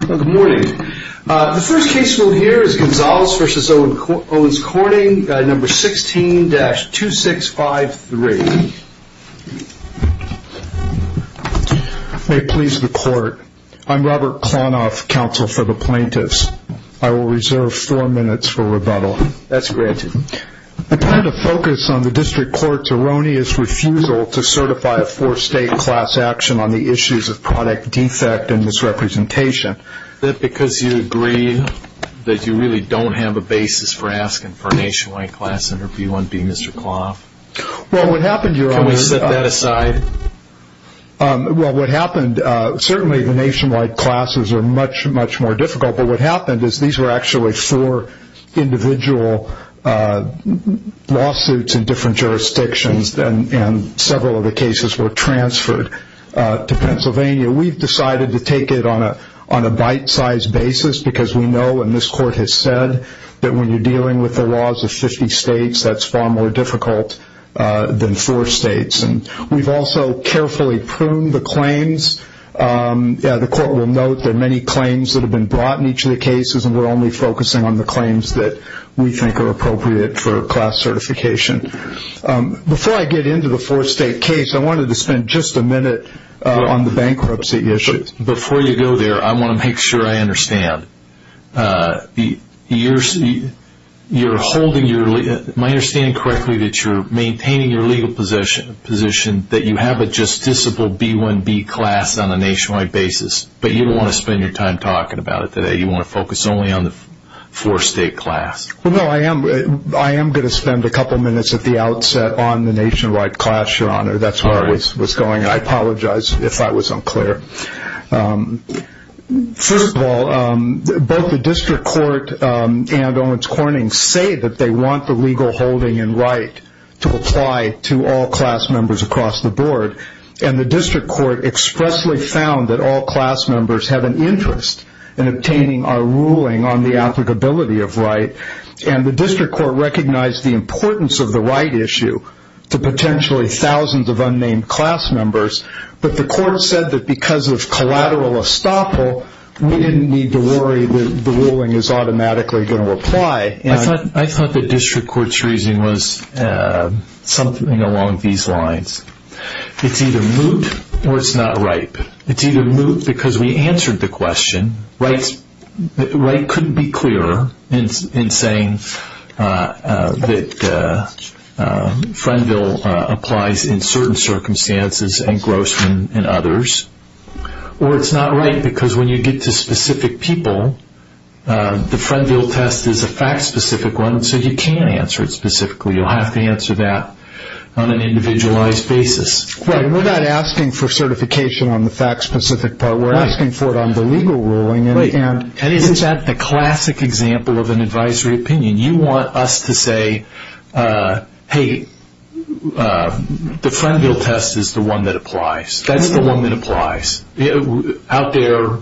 Good morning. The first case we'll hear is Gonzales v. Owens Corning, number 16-2653. May it please the court. I'm Robert Klonoff, counsel for the plaintiffs. I will reserve four minutes for rebuttal. That's granted. I plan to focus on the district court's erroneous refusal to certify a four-state class action on the issues of product defect and misrepresentation. Is that because you agree that you really don't have a basis for asking for a nationwide class interview on v. Mr. Klonoff? Can we set that aside? Certainly the nationwide classes are much more difficult, but what happened is these were actually four individual lawsuits in different jurisdictions, and several of the cases were transferred to Pennsylvania. We've decided to take it on a bite-sized basis because we know, and this court has said, that when you're dealing with the laws of 50 states, that's far more difficult than four states. We've also carefully pruned the claims. The court will note there are many claims that have been brought in each of the cases, and we're only focusing on the claims that we think are appropriate for class certification. Before I get into the four-state case, I wanted to spend just a minute on the bankruptcy issues. Before you go there, I want to make sure I understand. Am I understanding correctly that you're maintaining your legal position, that you have a justiciable B-1B class on a nationwide basis, but you don't want to spend your time talking about it today? You want to focus only on the four-state class? Well, no, I am going to spend a couple minutes at the outset on the nationwide class, Your Honor. That's where I was going. I apologize if that was unclear. First of all, both the district court and Owens Corning say that they want the legal holding and right to apply to all class members across the board, and the district court expressly found that all class members have an interest in obtaining our ruling on the applicability of right, and the district court recognized the importance of the right issue to potentially thousands of unnamed class members, but the court said that because of collateral estoppel, we didn't need to worry that the ruling is automatically going to apply. I thought the district court's reasoning was something along these lines. It's either moot or it's not ripe. It's either moot because we answered the question, the right couldn't be clearer in saying that Frenville applies in certain circumstances and Grossman in others, or it's not right because when you get to specific people, the Frenville test is a fact-specific one, so you can't answer it specifically. You'll have to answer that on an individualized basis. We're not asking for certification on the fact-specific part. We're asking for it on the legal ruling. Isn't that the classic example of an advisory opinion? You want us to say, hey, the Frenville test is the one that applies. That's the one that applies. Out there,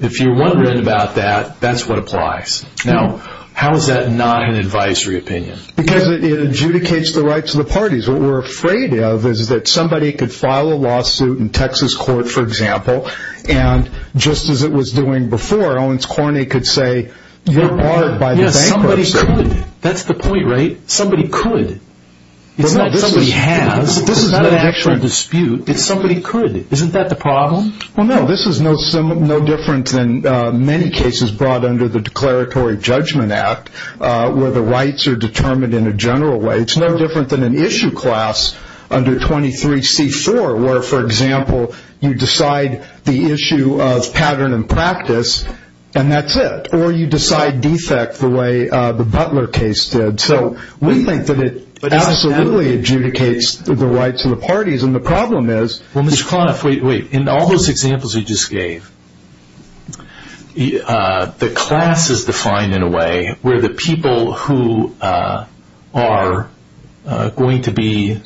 if you're wondering about that, that's what applies. Now, how is that not an advisory opinion? Because it adjudicates the rights of the parties. What we're afraid of is that somebody could file a lawsuit in Texas court, for example, and just as it was doing before, Owens Cornyn could say, you're barred by the bankruptcy. Yes, somebody could. That's the point, right? Somebody could. It's not somebody has. This is not an actual dispute. It's somebody could. Isn't that the problem? Well, no, this is no different than many cases brought under the Declaratory Judgment Act where the rights are determined in a general way. It's no different than an issue class under 23C4 where, for example, you decide the issue of pattern and practice, and that's it. Or you decide defect the way the Butler case did. So we think that it absolutely adjudicates the rights of the parties. And the problem is – Well, Mr. Klonoff, wait, wait. In all those examples you just gave, the class is defined in a way where the people who are going to be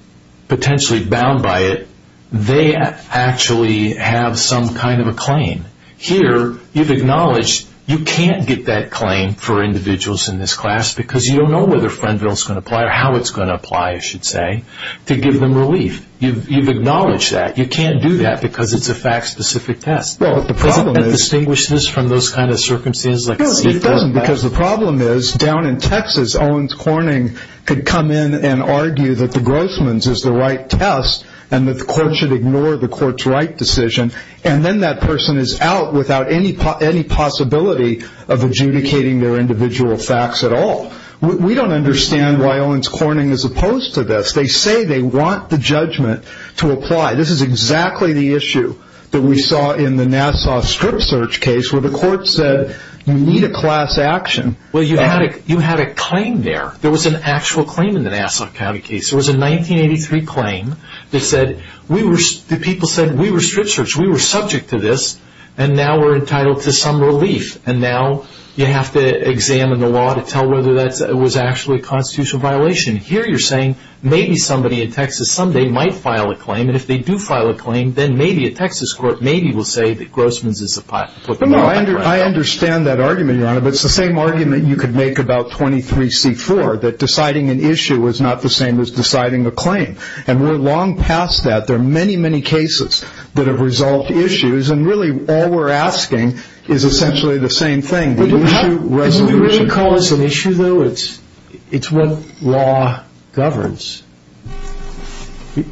potentially bound by it, they actually have some kind of a claim. Here you've acknowledged you can't get that claim for individuals in this class because you don't know whether Frenville is going to apply or how it's going to apply, I should say, to give them relief. You've acknowledged that. You can't do that because it's a fact-specific test. Well, the problem is – Does it distinguish this from those kind of circumstances? No, it doesn't, because the problem is down in Texas, Owens Corning could come in and argue that the Grossman's is the right test and that the court should ignore the court's right decision, and then that person is out without any possibility of adjudicating their individual facts at all. We don't understand why Owens Corning is opposed to this. They say they want the judgment to apply. This is exactly the issue that we saw in the Nassau strip search case where the court said you need a class action. Well, you had a claim there. There was an actual claim in the Nassau County case. There was a 1983 claim that people said we were strip searched, we were subject to this, and now we're entitled to some relief, and now you have to examine the law to tell whether that was actually a constitutional violation. Here you're saying maybe somebody in Texas someday might file a claim, and if they do file a claim, then maybe a Texas court maybe will say that Grossman's is the right one. I understand that argument, Your Honor, but it's the same argument you could make about 23C4, that deciding an issue is not the same as deciding a claim, and we're long past that. There are many, many cases that have resolved issues, and really all we're asking is essentially the same thing, the issue resolution. Do you really call this an issue, though? It's what law governs.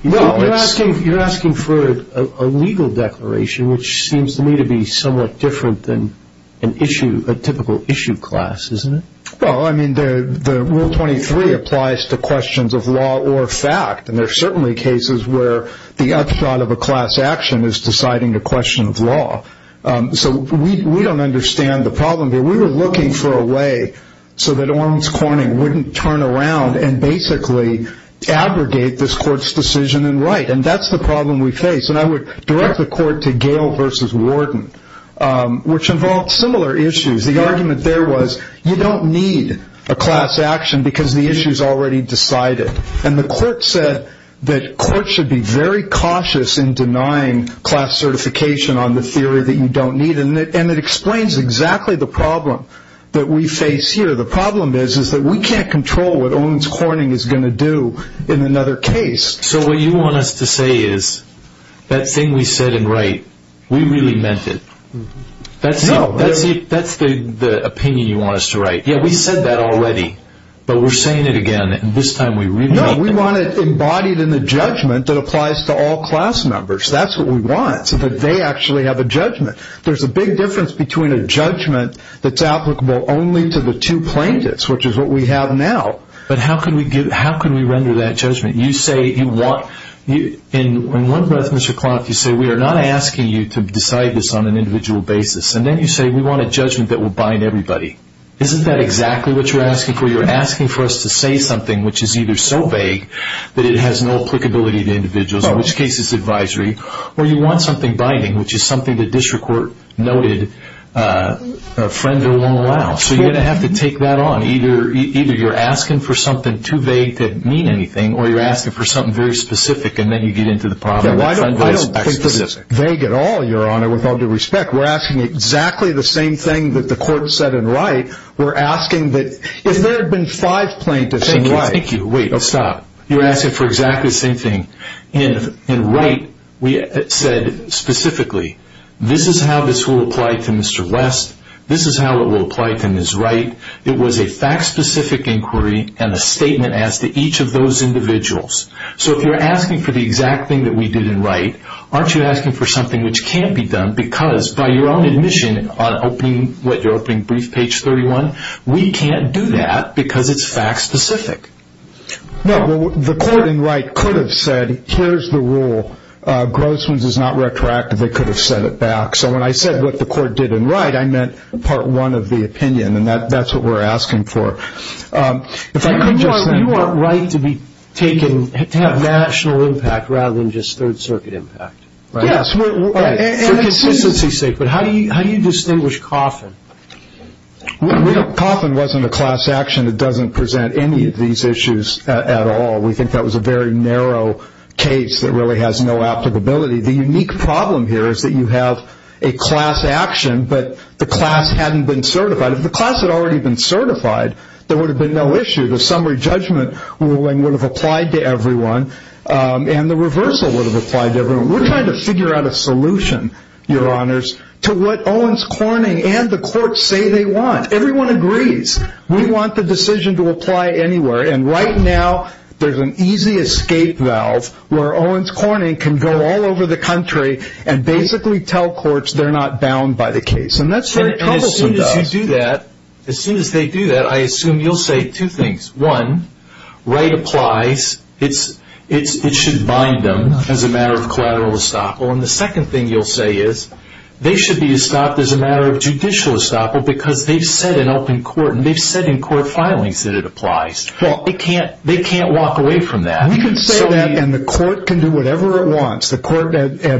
You're asking for a legal declaration, which seems to me to be somewhat different than a typical issue class, isn't it? Well, I mean, Rule 23 applies to questions of law or fact, and there are certainly cases where the upshot of a class action is deciding a question of law. So we don't understand the problem here. We were looking for a way so that Orms Corning wouldn't turn around and basically abrogate this court's decision and write, and that's the problem we face. And I would direct the court to Gale v. Warden, which involved similar issues. The argument there was you don't need a class action because the issue is already decided. And the court said that courts should be very cautious in denying class certification on the theory that you don't need, and it explains exactly the problem that we face here. The problem is that we can't control what Orms Corning is going to do in another case. So what you want us to say is that thing we said in Wright, we really meant it. No. That's the opinion you want us to write. Yeah, we said that already, but we're saying it again, and this time we really meant it. No, we want it embodied in the judgment that applies to all class members. That's what we want, so that they actually have a judgment. There's a big difference between a judgment that's applicable only to the two plaintiffs, which is what we have now. But how can we render that judgment? You say you want in one breath, Mr. Klonth, you say we are not asking you to decide this on an individual basis, and then you say we want a judgment that will bind everybody. Isn't that exactly what you're asking for? You're asking for us to say something which is either so vague that it has no applicability to individuals, in which case it's advisory, or you want something binding, which is something the district court noted a friend or lower allows. So you're going to have to take that on. Either you're asking for something too vague to mean anything, or you're asking for something very specific, and then you get into the problem. I don't think this is vague at all, Your Honor, with all due respect. We're asking exactly the same thing that the court said in Wright. We're asking that if there had been five plaintiffs in Wright. Thank you, thank you. Wait, stop. You're asking for exactly the same thing. In Wright, we said specifically, this is how this will apply to Mr. West. This is how it will apply to Ms. Wright. It was a fact-specific inquiry and a statement as to each of those individuals. So if you're asking for the exact thing that we did in Wright, aren't you asking for something which can't be done because, by your own admission, you're opening brief page 31, we can't do that because it's fact-specific. No, the court in Wright could have said, here's the rule. Grossman's is not retroactive. They could have said it back. So when I said what the court did in Wright, I meant part one of the opinion, and that's what we're asking for. You want Wright to have national impact rather than just Third Circuit impact. Yes. For consistency's sake, but how do you distinguish Coffin? Coffin wasn't a class action that doesn't present any of these issues at all. We think that was a very narrow case that really has no applicability. The unique problem here is that you have a class action, but the class hadn't been certified. If the class had already been certified, there would have been no issue. The summary judgment ruling would have applied to everyone, and the reversal would have applied to everyone. We're trying to figure out a solution, Your Honors, to what Owens Corning and the court say they want. Everyone agrees we want the decision to apply anywhere, and right now there's an easy escape valve where Owens Corning can go all over the country and basically tell courts they're not bound by the case, and that's very troublesome to us. And as soon as you do that, as soon as they do that, I assume you'll say two things. One, right applies, it should bind them as a matter of collateral estoppel, and the second thing you'll say is they should be estopped as a matter of judicial estoppel because they've said in open court and they've said in court filings that it applies. They can't walk away from that. We can say that and the court can do whatever it wants. The court,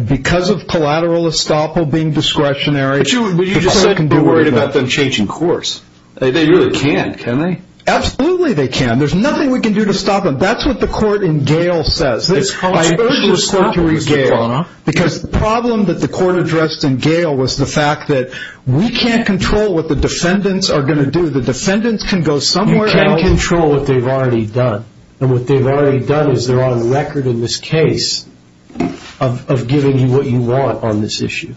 because of collateral estoppel being discretionary, But you just said you're worried about them changing course. They really can't, can they? Absolutely they can. There's nothing we can do to stop them. That's what the court in Gale says. It's controversial to stop them. Because the problem that the court addressed in Gale was the fact that we can't control what the defendants are going to do. The defendants can go somewhere else. You can control what they've already done, and what they've already done is they're on record in this case of giving you what you want on this issue.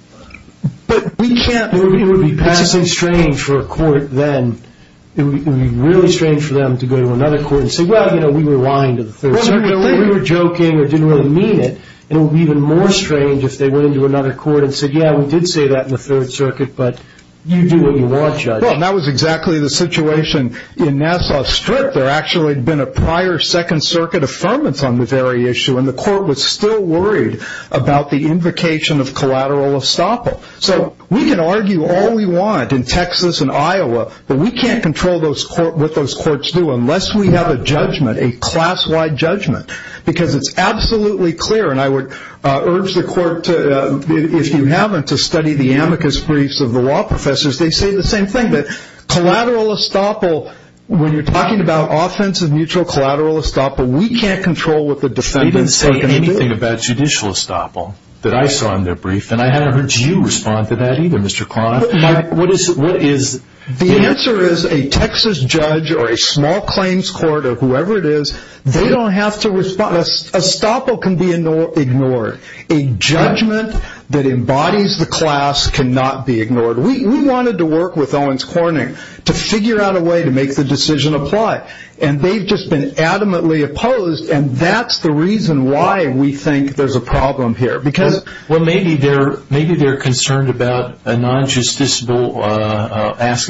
But we can't. It would be passing strange for a court then. It would be really strange for them to go to another court and say, Well, you know, we were lying to the Third Circuit. We were joking. We didn't really mean it. It would be even more strange if they went into another court and said, Yeah, we did say that in the Third Circuit, but you do what you want, Judge. Well, that was exactly the situation in Nassau Strip. There actually had been a prior Second Circuit affirmance on the very issue, and the court was still worried about the invocation of collateral estoppel. So we can argue all we want in Texas and Iowa, but we can't control what those courts do unless we have a judgment, a class-wide judgment, because it's absolutely clear, and I would urge the court, if you haven't, to study the amicus briefs of the law professors. They say the same thing, that collateral estoppel, when you're talking about offensive mutual collateral estoppel, we can't control what the defendants are going to do. They didn't say anything about judicial estoppel that I saw in their brief, and I haven't heard you respond to that either, Mr. Cronin. The answer is a Texas judge or a small claims court or whoever it is, they don't have to respond. Estoppel can be ignored. A judgment that embodies the class cannot be ignored. We wanted to work with Owens Corning to figure out a way to make the decision apply, and they've just been adamantly opposed, and that's the reason why we think there's a problem here. Well, maybe they're concerned about asking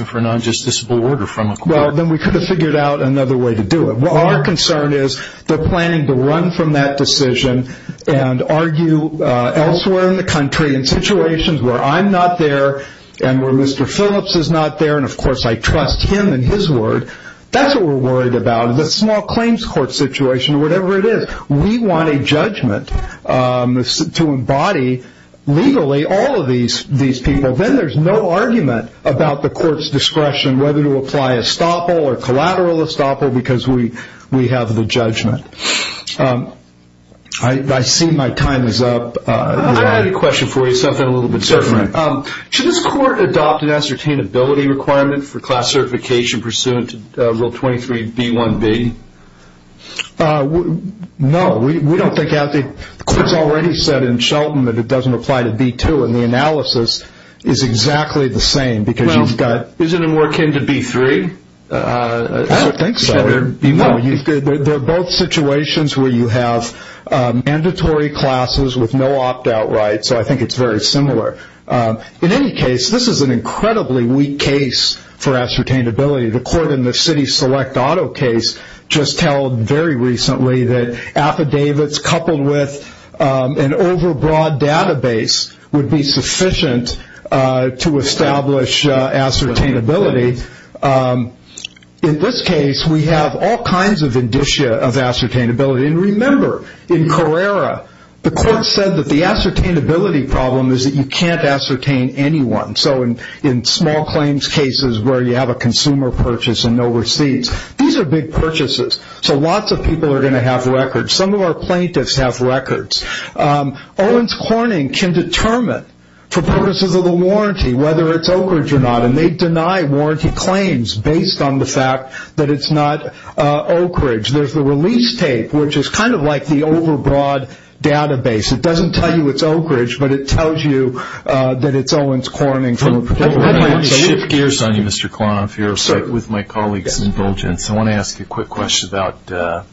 for a non-justiciable order from a court. Well, then we could have figured out another way to do it. Our concern is they're planning to run from that decision and argue elsewhere in the country in situations where I'm not there and where Mr. Phillips is not there, and, of course, I trust him and his word. That's what we're worried about, the small claims court situation or whatever it is. We want a judgment to embody legally all of these people. Then there's no argument about the court's discretion whether to apply Estoppel or collateral Estoppel because we have the judgment. I see my time is up. I have a question for you, something a little bit different. Should this court adopt an ascertainability requirement for class certification pursuant to Rule 23b1b? No, we don't think that. The court's already said in Shelton that it doesn't apply to B2, and the analysis is exactly the same because you've got... Well, isn't it more akin to B3? I don't think so. There are both situations where you have mandatory classes with no opt-out right, so I think it's very similar. In any case, this is an incredibly weak case for ascertainability. The court in the city select auto case just held very recently that affidavits coupled with an overbroad database would be sufficient to establish ascertainability. In this case, we have all kinds of indicia of ascertainability. And remember, in Carrera, the court said that the ascertainability problem is that you can't ascertain anyone. So in small claims cases where you have a consumer purchase and no receipts, these are big purchases, so lots of people are going to have records. Some of our plaintiffs have records. Owens Corning can determine for purposes of the warranty whether it's Oak Ridge or not, and they deny warranty claims based on the fact that it's not Oak Ridge. There's the release tape, which is kind of like the overbroad database. It doesn't tell you it's Oak Ridge, but it tells you that it's Owens Corning. Let me shift gears on you, Mr. Clon, with my colleague's indulgence. I want to ask you a quick question about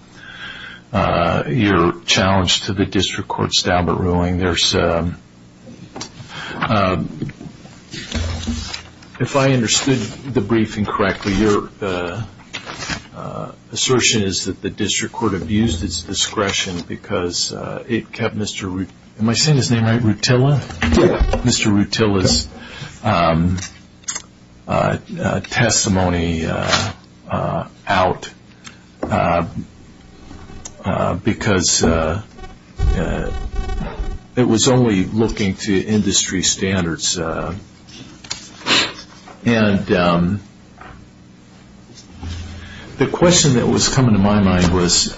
your challenge to the district court's Daubert ruling. If I understood the briefing correctly, your assertion is that the district court abused its discretion because it kept Mr. Rutila's testimony out because it was only looking to industry standards. And the question that was coming to my mind was,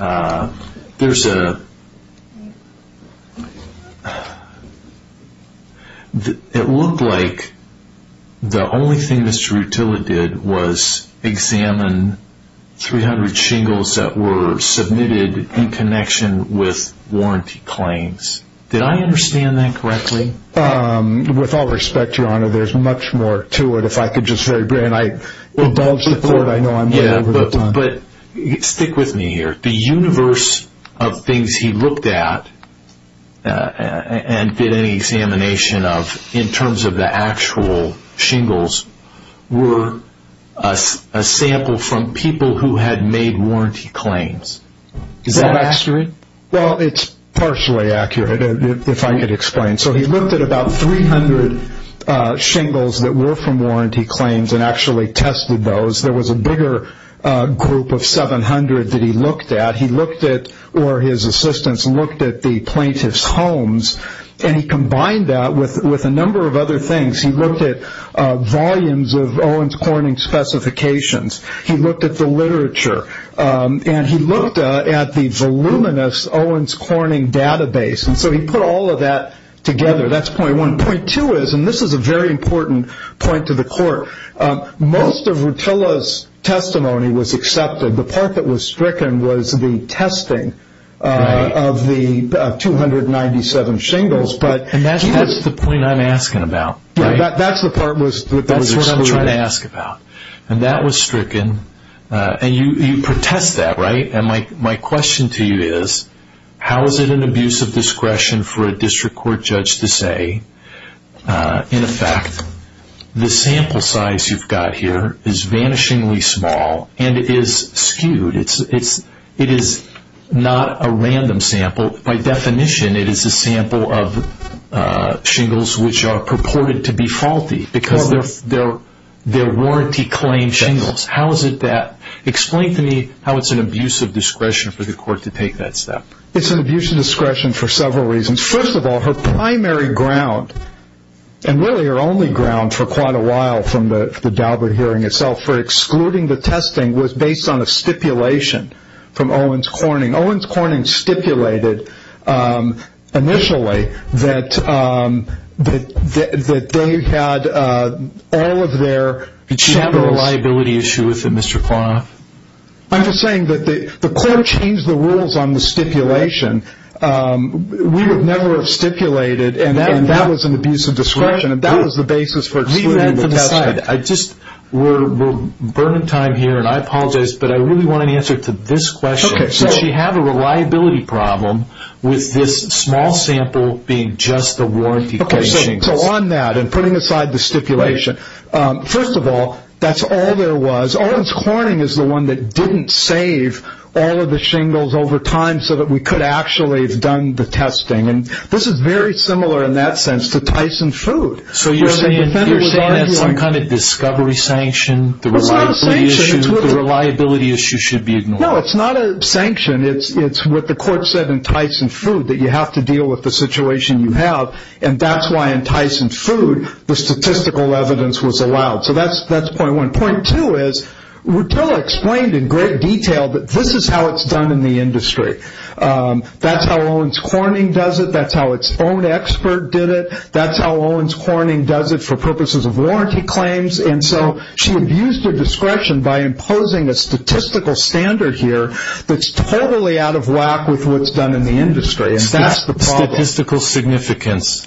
it looked like the only thing Mr. Rutila did was examine 300 shingles that were submitted in connection with warranty claims. Did I understand that correctly? With all respect, Your Honor, there's much more to it. If I could just very briefly indulge the court, I know I'm way over the top. But stick with me here. The universe of things he looked at and did an examination of, in terms of the actual shingles, were a sample from people who had made warranty claims. Is that accurate? Well, it's partially accurate, if I could explain. So he looked at about 300 shingles that were from warranty claims and actually tested those. There was a bigger group of 700 that he looked at. He looked at, or his assistants looked at, the plaintiff's homes. And he combined that with a number of other things. He looked at volumes of Owens Corning specifications. He looked at the literature. And he looked at the voluminous Owens Corning database. And so he put all of that together. That's point one. Point two is, and this is a very important point to the court, most of Rutila's testimony was accepted. The part that was stricken was the testing of the 297 shingles. And that's the point I'm asking about, right? That's the part that was excluded. That's what I'm trying to ask about. And that was stricken. And you protest that, right? And my question to you is, how is it an abuse of discretion for a district court judge to say, in effect, the sample size you've got here is vanishingly small and is skewed. It is not a random sample. By definition, it is a sample of shingles which are purported to be faulty because they're warranty claim shingles. How is it that? Explain to me how it's an abuse of discretion for the court to take that step. It's an abuse of discretion for several reasons. First of all, her primary ground, and really her only ground for quite a while from the Daubert hearing itself, for excluding the testing was based on a stipulation from Owens Corning. Owens Corning stipulated initially that they had all of their samples. Did she have a reliability issue with it, Mr. Kwan? I'm just saying that the court changed the rules on the stipulation. We would never have stipulated, and that was an abuse of discretion. And that was the basis for excluding the testing. Read that to the side. We're burning time here, and I apologize, but I really want an answer to this question. Did she have a reliability problem with this small sample being just the warranty claim shingles? So on that, and putting aside the stipulation, first of all, that's all there was. Owens Corning is the one that didn't save all of the shingles over time so that we could actually have done the testing. And this is very similar in that sense to Tyson's food. So you're saying that's some kind of discovery sanction? It's not a sanction. The reliability issue should be ignored. No, it's not a sanction. It's what the court said in Tyson's food, that you have to deal with the situation you have, and that's why in Tyson's food the statistical evidence was allowed. So that's point one. Point two is Rutila explained in great detail that this is how it's done in the industry. That's how Owens Corning does it. That's how its own expert did it. That's how Owens Corning does it for purposes of warranty claims. And so she abused her discretion by imposing a statistical standard here that's totally out of whack with what's done in the industry, and that's the problem. Statistical significance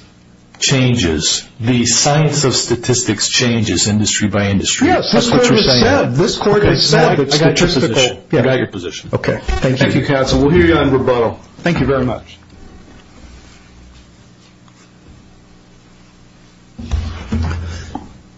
changes. The science of statistics changes industry by industry. Yes, that's what you're saying. That's what the court has said. I got your position. I got your position. Okay. Thank you, counsel. We'll hear you on rebuttal. Thank you very much.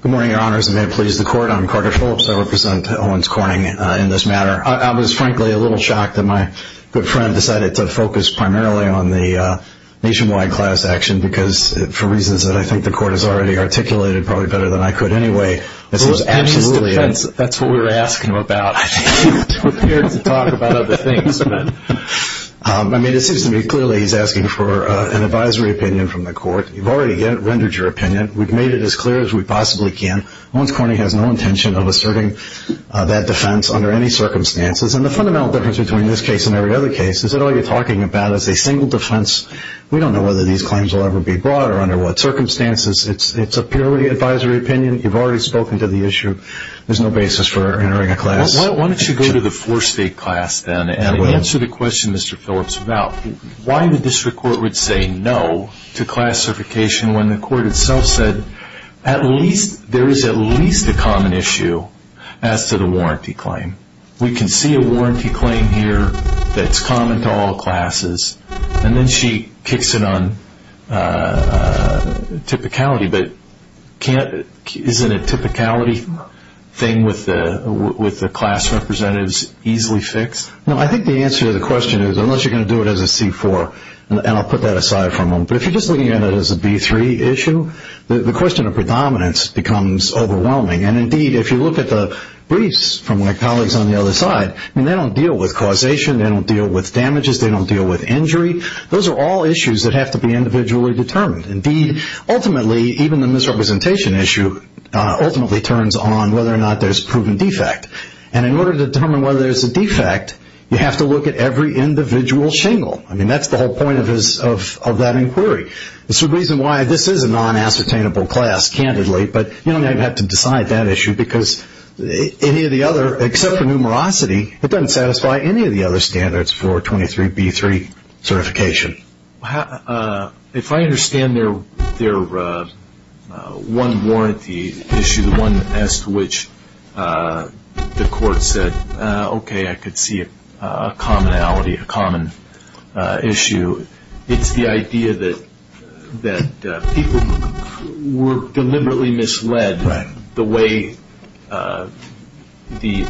Good morning, Your Honors, and may it please the court. I'm Carter Phillips. I represent Owens Corning in this matter. I was, frankly, a little shocked that my good friend decided to focus primarily on the nationwide class action because for reasons that I think the court has already articulated probably better than I could anyway. That's what we were asking him about. I think he was prepared to talk about other things. I mean, it seems to me clearly he's asking for an advisory opinion from the court. You've already rendered your opinion. We've made it as clear as we possibly can. Owens Corning has no intention of asserting that defense under any circumstances, and the fundamental difference between this case and every other case is that all you're talking about is a single defense. We don't know whether these claims will ever be brought or under what circumstances. It's a purely advisory opinion. You've already spoken to the issue. There's no basis for entering a class. Why don't you go to the four-state class then and answer the question, Mr. Phillips, about why the district court would say no to class certification when the court itself said there is at least a common issue as to the warranty claim. We can see a warranty claim here that's common to all classes, and then she kicks it on typicality, but isn't a typicality thing with the class representatives easily fixed? No, I think the answer to the question is unless you're going to do it as a C-4, and I'll put that aside for a moment, but if you're just looking at it as a B-3 issue, the question of predominance becomes overwhelming, and indeed if you look at the briefs from my colleagues on the other side, they don't deal with causation, they don't deal with damages, they don't deal with injury. Those are all issues that have to be individually determined. Indeed, ultimately, even the misrepresentation issue ultimately turns on whether or not there's a proven defect, and in order to determine whether there's a defect, you have to look at every individual shingle. That's the whole point of that inquiry. There's a reason why this is a non-ascertainable class, candidly, but you don't have to decide that issue because any of the other, except for numerosity, it doesn't satisfy any of the other standards for 23-B-3 certification. If I understand their one warranty issue, the one as to which the court said, okay, I could see a commonality, a common issue, it's the idea that people were deliberately misled the way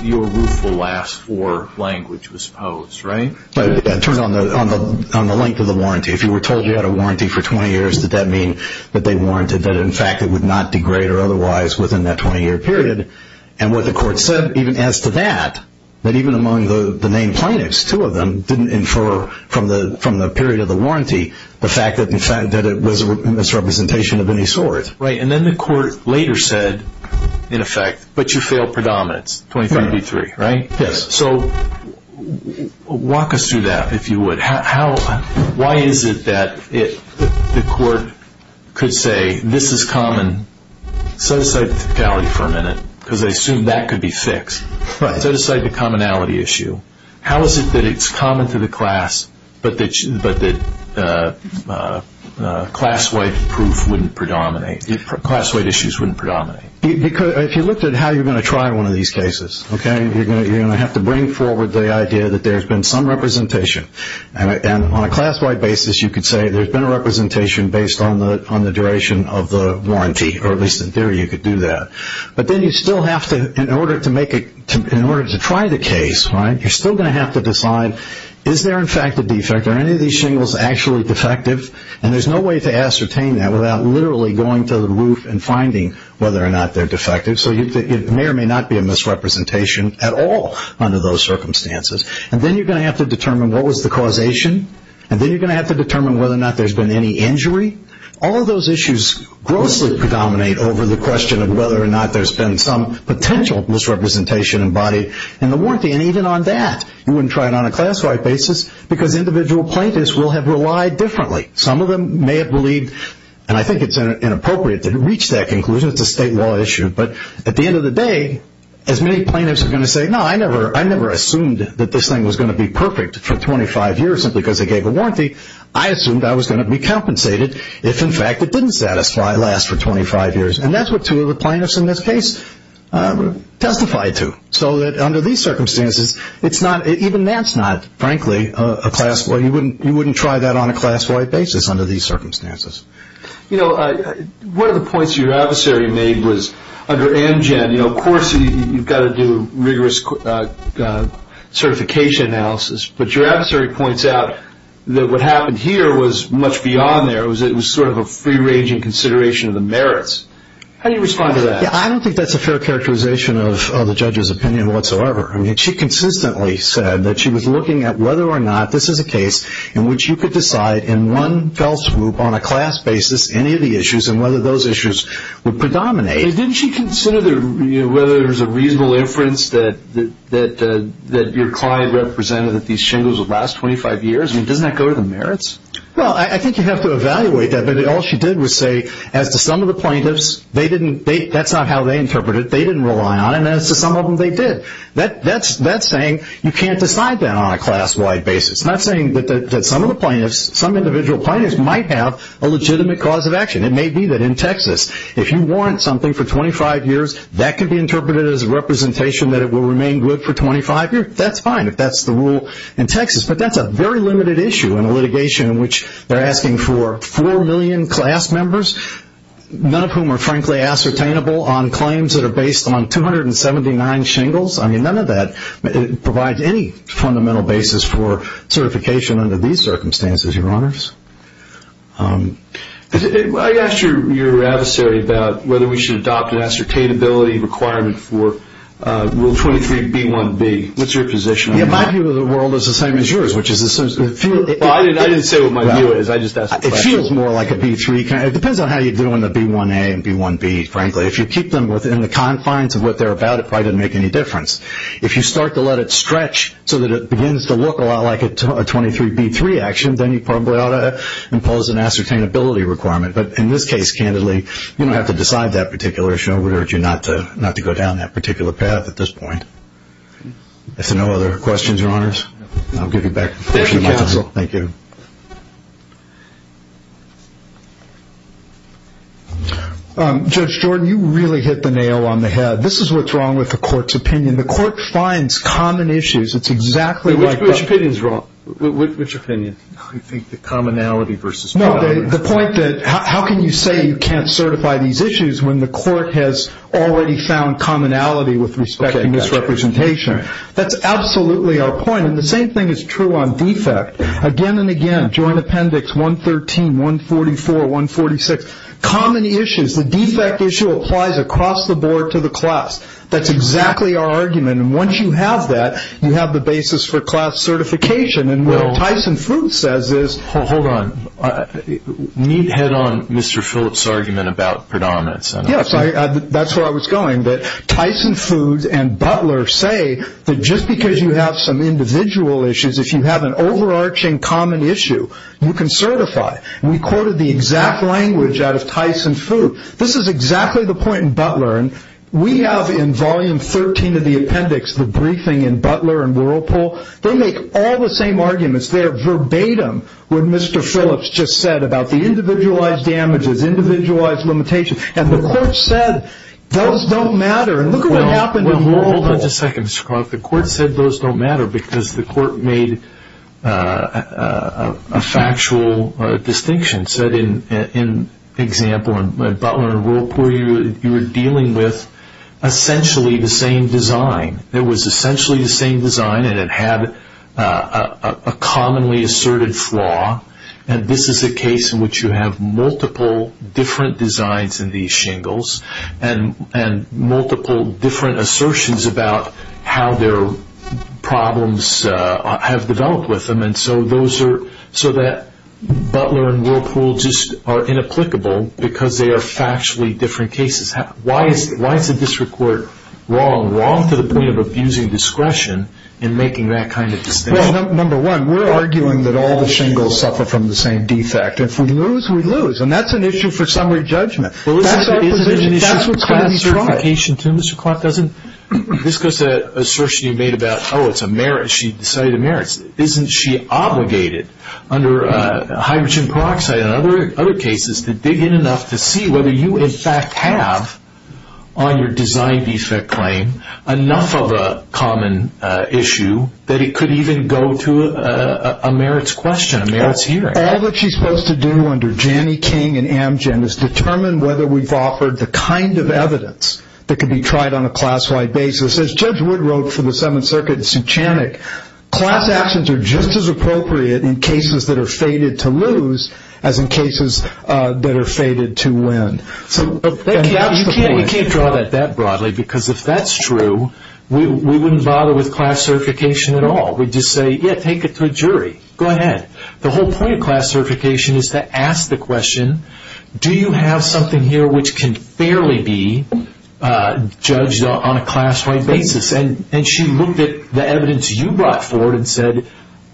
your rule for last four language was posed, right? It turned on the length of the warranty. If you were told you had a warranty for 20 years, did that mean that they warranted that, in fact, it would not degrade or otherwise within that 20-year period? And what the court said even as to that, that even among the named plaintiffs, two of them, didn't infer from the period of the warranty the fact that it was a misrepresentation of any sort. Right, and then the court later said, in effect, but you failed predominance, 23-B-3, right? Yes. So walk us through that, if you would. Why is it that the court could say, this is common, set aside the commonality for a minute, because I assume that could be fixed, set aside the commonality issue. How is it that it's common to the class, but that class-wide proof wouldn't predominate, class-wide issues wouldn't predominate? If you looked at how you're going to try one of these cases, okay, you're going to have to bring forward the idea that there's been some representation. And on a class-wide basis, you could say there's been a representation based on the duration of the warranty, or at least in theory you could do that. But then you still have to, in order to try the case, right, you're still going to have to decide, is there, in fact, a defect? Are any of these shingles actually defective? And there's no way to ascertain that without literally going to the roof and finding whether or not they're defective. So it may or may not be a misrepresentation at all under those circumstances. And then you're going to have to determine what was the causation, and then you're going to have to determine whether or not there's been any injury. All of those issues grossly predominate over the question of whether or not there's been some potential misrepresentation embodied in the warranty. And even on that, you wouldn't try it on a class-wide basis, because individual plaintiffs will have relied differently. Some of them may have believed, and I think it's inappropriate to reach that conclusion, it's a state law issue. But at the end of the day, as many plaintiffs are going to say, no, I never assumed that this thing was going to be perfect for 25 years simply because they gave a warranty. I assumed I was going to be compensated if, in fact, it didn't satisfy, last for 25 years. And that's what two of the plaintiffs in this case testified to, so that under these circumstances, it's not, even that's not, frankly, a class-wide, you wouldn't try that on a class-wide basis under these circumstances. You know, one of the points your adversary made was under Amgen, of course you've got to do rigorous certification analysis, but your adversary points out that what happened here was much beyond there. It was sort of a free-ranging consideration of the merits. How do you respond to that? Yeah, I don't think that's a fair characterization of the judge's opinion whatsoever. I mean, she consistently said that she was looking at whether or not this is a case in which you could decide in one fell swoop on a class basis any of the issues and whether those issues would predominate. Didn't she consider whether there was a reasonable inference that your client represented that these shingles would last 25 years? I mean, doesn't that go to the merits? Well, I think you have to evaluate that, but all she did was say, as to some of the plaintiffs, they didn't, that's not how they interpreted it, they didn't rely on it, and as to some of them, they did. That's saying you can't decide that on a class-wide basis. It's not saying that some of the plaintiffs, some individual plaintiffs, might have a legitimate cause of action. It may be that in Texas, if you warrant something for 25 years, that could be interpreted as a representation that it will remain good for 25 years. That's fine if that's the rule in Texas, but that's a very limited issue in a litigation in which they're asking for 4 million class members, none of whom are frankly ascertainable on claims that are based on 279 shingles. I mean, none of that provides any fundamental basis for certification under these circumstances, Your Honors. I asked your adversary about whether we should adopt an ascertainability requirement for Rule 23B1B. What's your position on that? My view of the world is the same as yours, which is the same as yours. I didn't say what my view is. I just asked the question. It feels more like a B3. It depends on how you're doing the B1A and B1B, frankly. If you keep them within the confines of what they're about, it probably doesn't make any difference. If you start to let it stretch so that it begins to look a lot like a 23B3 action, then you probably ought to impose an ascertainability requirement. But in this case, candidly, you don't have to decide that particular issue. We urge you not to go down that particular path at this point. Is there no other questions, Your Honors? I'll give you back to counsel. Thank you. Judge Jordan, you really hit the nail on the head. This is what's wrong with the Court's opinion. The Court finds common issues. It's exactly like that. Which opinion is wrong? Which opinion? I think the commonality versus commonality. No, the point that how can you say you can't certify these issues when the Court has already found commonality with respect to misrepresentation. That's absolutely our point, and the same thing is true on defect. Again and again, Joint Appendix 113, 144, 146, common issues. The defect issue applies across the board to the class. That's exactly our argument. And once you have that, you have the basis for class certification. And what Tyson Foods says is – Hold on. Need to head on Mr. Phillips' argument about predominance. Yes, that's where I was going. Tyson Foods and Butler say that just because you have some individual issues, if you have an overarching common issue, you can certify. And we quoted the exact language out of Tyson Foods. This is exactly the point in Butler. And we have in Volume 13 of the appendix the briefing in Butler and Whirlpool. They make all the same arguments there verbatim, what Mr. Phillips just said about the individualized damages, individualized limitations. And the Court said those don't matter. And look at what happened in Whirlpool. Well, hold on just a second, Mr. Clark. The Court said those don't matter because the Court made a factual distinction. It said, in example, in Butler and Whirlpool, you were dealing with essentially the same design. It was essentially the same design and it had a commonly asserted flaw. And this is a case in which you have multiple different designs in these shingles and multiple different assertions about how their problems have developed with them. And so Butler and Whirlpool just are inapplicable because they are factually different cases. Why is the district court wrong, wrong to the point of abusing discretion in making that kind of distinction? Well, number one, we're arguing that all the shingles suffer from the same defect. If we lose, we lose. And that's an issue for summary judgment. Well, isn't it an issue for class certification too, Mr. Clark? This goes to an assertion you made about, oh, it's a merit. She decided the merits. Isn't she obligated under hydrogen peroxide and other cases to dig in enough to see whether you, in fact, have on your design defect claim enough of a common issue that it could even go to a merits question, a merits hearing? All that she's supposed to do under Janne King and Amgen is determine whether we've offered the kind of evidence that could be tried on a class-wide basis. As Judge Wood wrote for the Seventh Circuit in Suchanick, class actions are just as appropriate in cases that are fated to lose as in cases that are fated to win. You can't draw that that broadly because if that's true, we wouldn't bother with class certification at all. We'd just say, yeah, take it to a jury. Go ahead. The whole point of class certification is to ask the question, do you have something here which can fairly be judged on a class-wide basis? And she looked at the evidence you brought forward and said,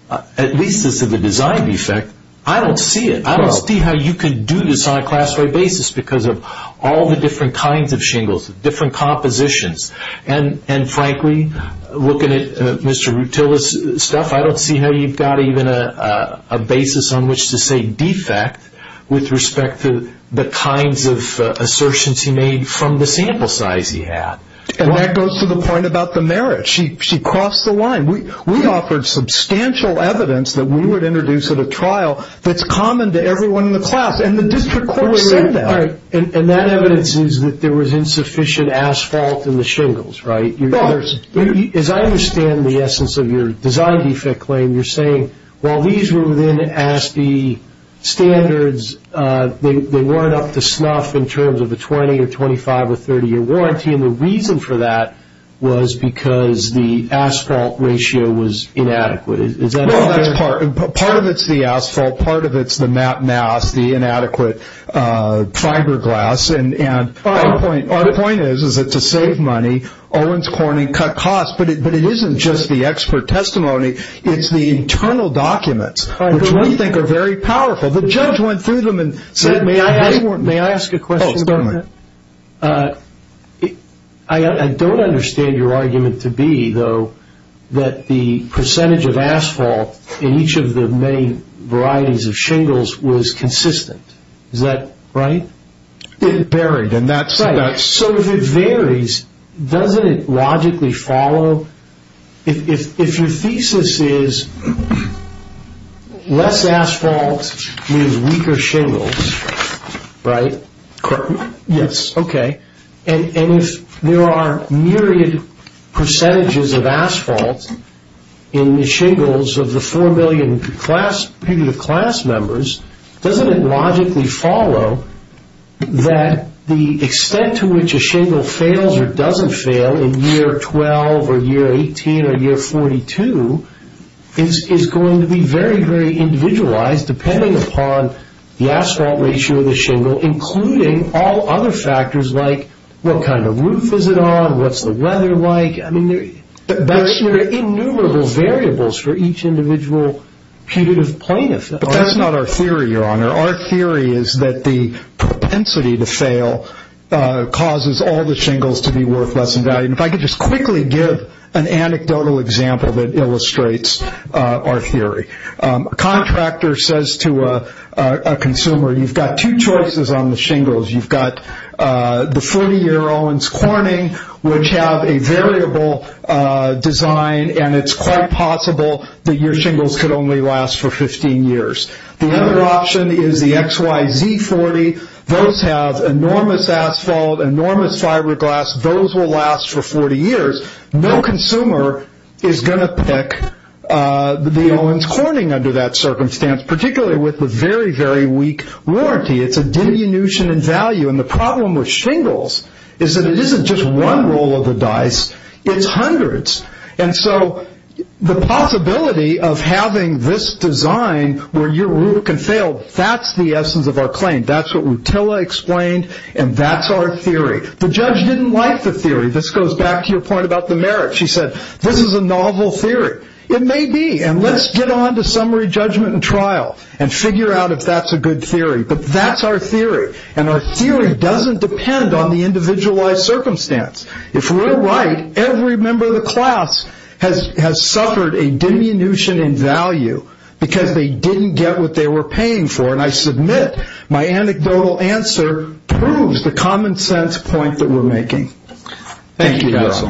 at least this is a design defect. I don't see it. I don't see how you can do this on a class-wide basis because of all the different kinds of shingles, different compositions. And frankly, looking at Mr. Rutila's stuff, I don't see how you've got even a basis on which to say defect with respect to the kinds of assertions he made from the sample size he had. And that goes to the point about the merit. She crossed the line. We offered substantial evidence that we would introduce at a trial that's common to everyone in the class, and the district court said that. All right. And that evidence is that there was insufficient asphalt in the shingles, right? As I understand the essence of your design defect claim, you're saying, well, these were within ASPE standards. They weren't up to snuff in terms of a 20- or 25- or 30-year warranty, and the reason for that was because the asphalt ratio was inadequate. Part of it's the asphalt. Part of it's the mass, the inadequate fiberglass. And our point is that to save money, Owens Corning cut costs. But it isn't just the expert testimony. It's the internal documents, which we think are very powerful. The judge went through them and said they weren't. May I ask a question? Oh, certainly. I don't understand your argument to be, though, that the percentage of asphalt in each of the many varieties of shingles was consistent. Is that right? It varied in that sense. So if it varies, doesn't it logically follow? If your thesis is less asphalt means weaker shingles, right? Correct. Yes. Okay. And if there are myriad percentages of asphalt in the shingles of the 4 million class members, doesn't it logically follow that the extent to which a shingle fails or doesn't fail in year 12 or year 18 or year 42 is going to be very, very individualized, depending upon the asphalt ratio of the shingle, including all other factors like what kind of roof is it on, what's the weather like? I mean, there are innumerable variables for each individual punitive plaintiff. But that's not our theory, Your Honor. Our theory is that the propensity to fail causes all the shingles to be worth less in value. And if I could just quickly give an anecdotal example that illustrates our theory. A contractor says to a consumer, you've got two choices on the shingles. You've got the 40-year Owens Corning, which have a variable design, and it's quite possible that your shingles could only last for 15 years. The other option is the XYZ 40. Those have enormous asphalt, enormous fiberglass. Those will last for 40 years. No consumer is going to pick the Owens Corning under that circumstance, particularly with the very, very weak warranty. It's a diminution in value. And the problem with shingles is that it isn't just one roll of the dice, it's hundreds. And so the possibility of having this design where your rule can fail, that's the essence of our claim. That's what Rutila explained, and that's our theory. The judge didn't like the theory. This goes back to your point about the merit. She said, this is a novel theory. It may be, and let's get on to summary judgment and trial and figure out if that's a good theory. But that's our theory, and our theory doesn't depend on the individualized circumstance. If we're right, every member of the class has suffered a diminution in value because they didn't get what they were paying for. And I submit my anecdotal answer proves the common sense point that we're making. Thank you, counsel.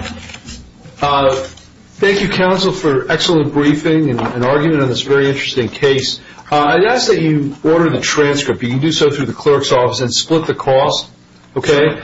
Thank you, counsel, for excellent briefing and argument on this very interesting case. I'd ask that you order the transcript. You can do so through the clerk's office and split the cost, okay?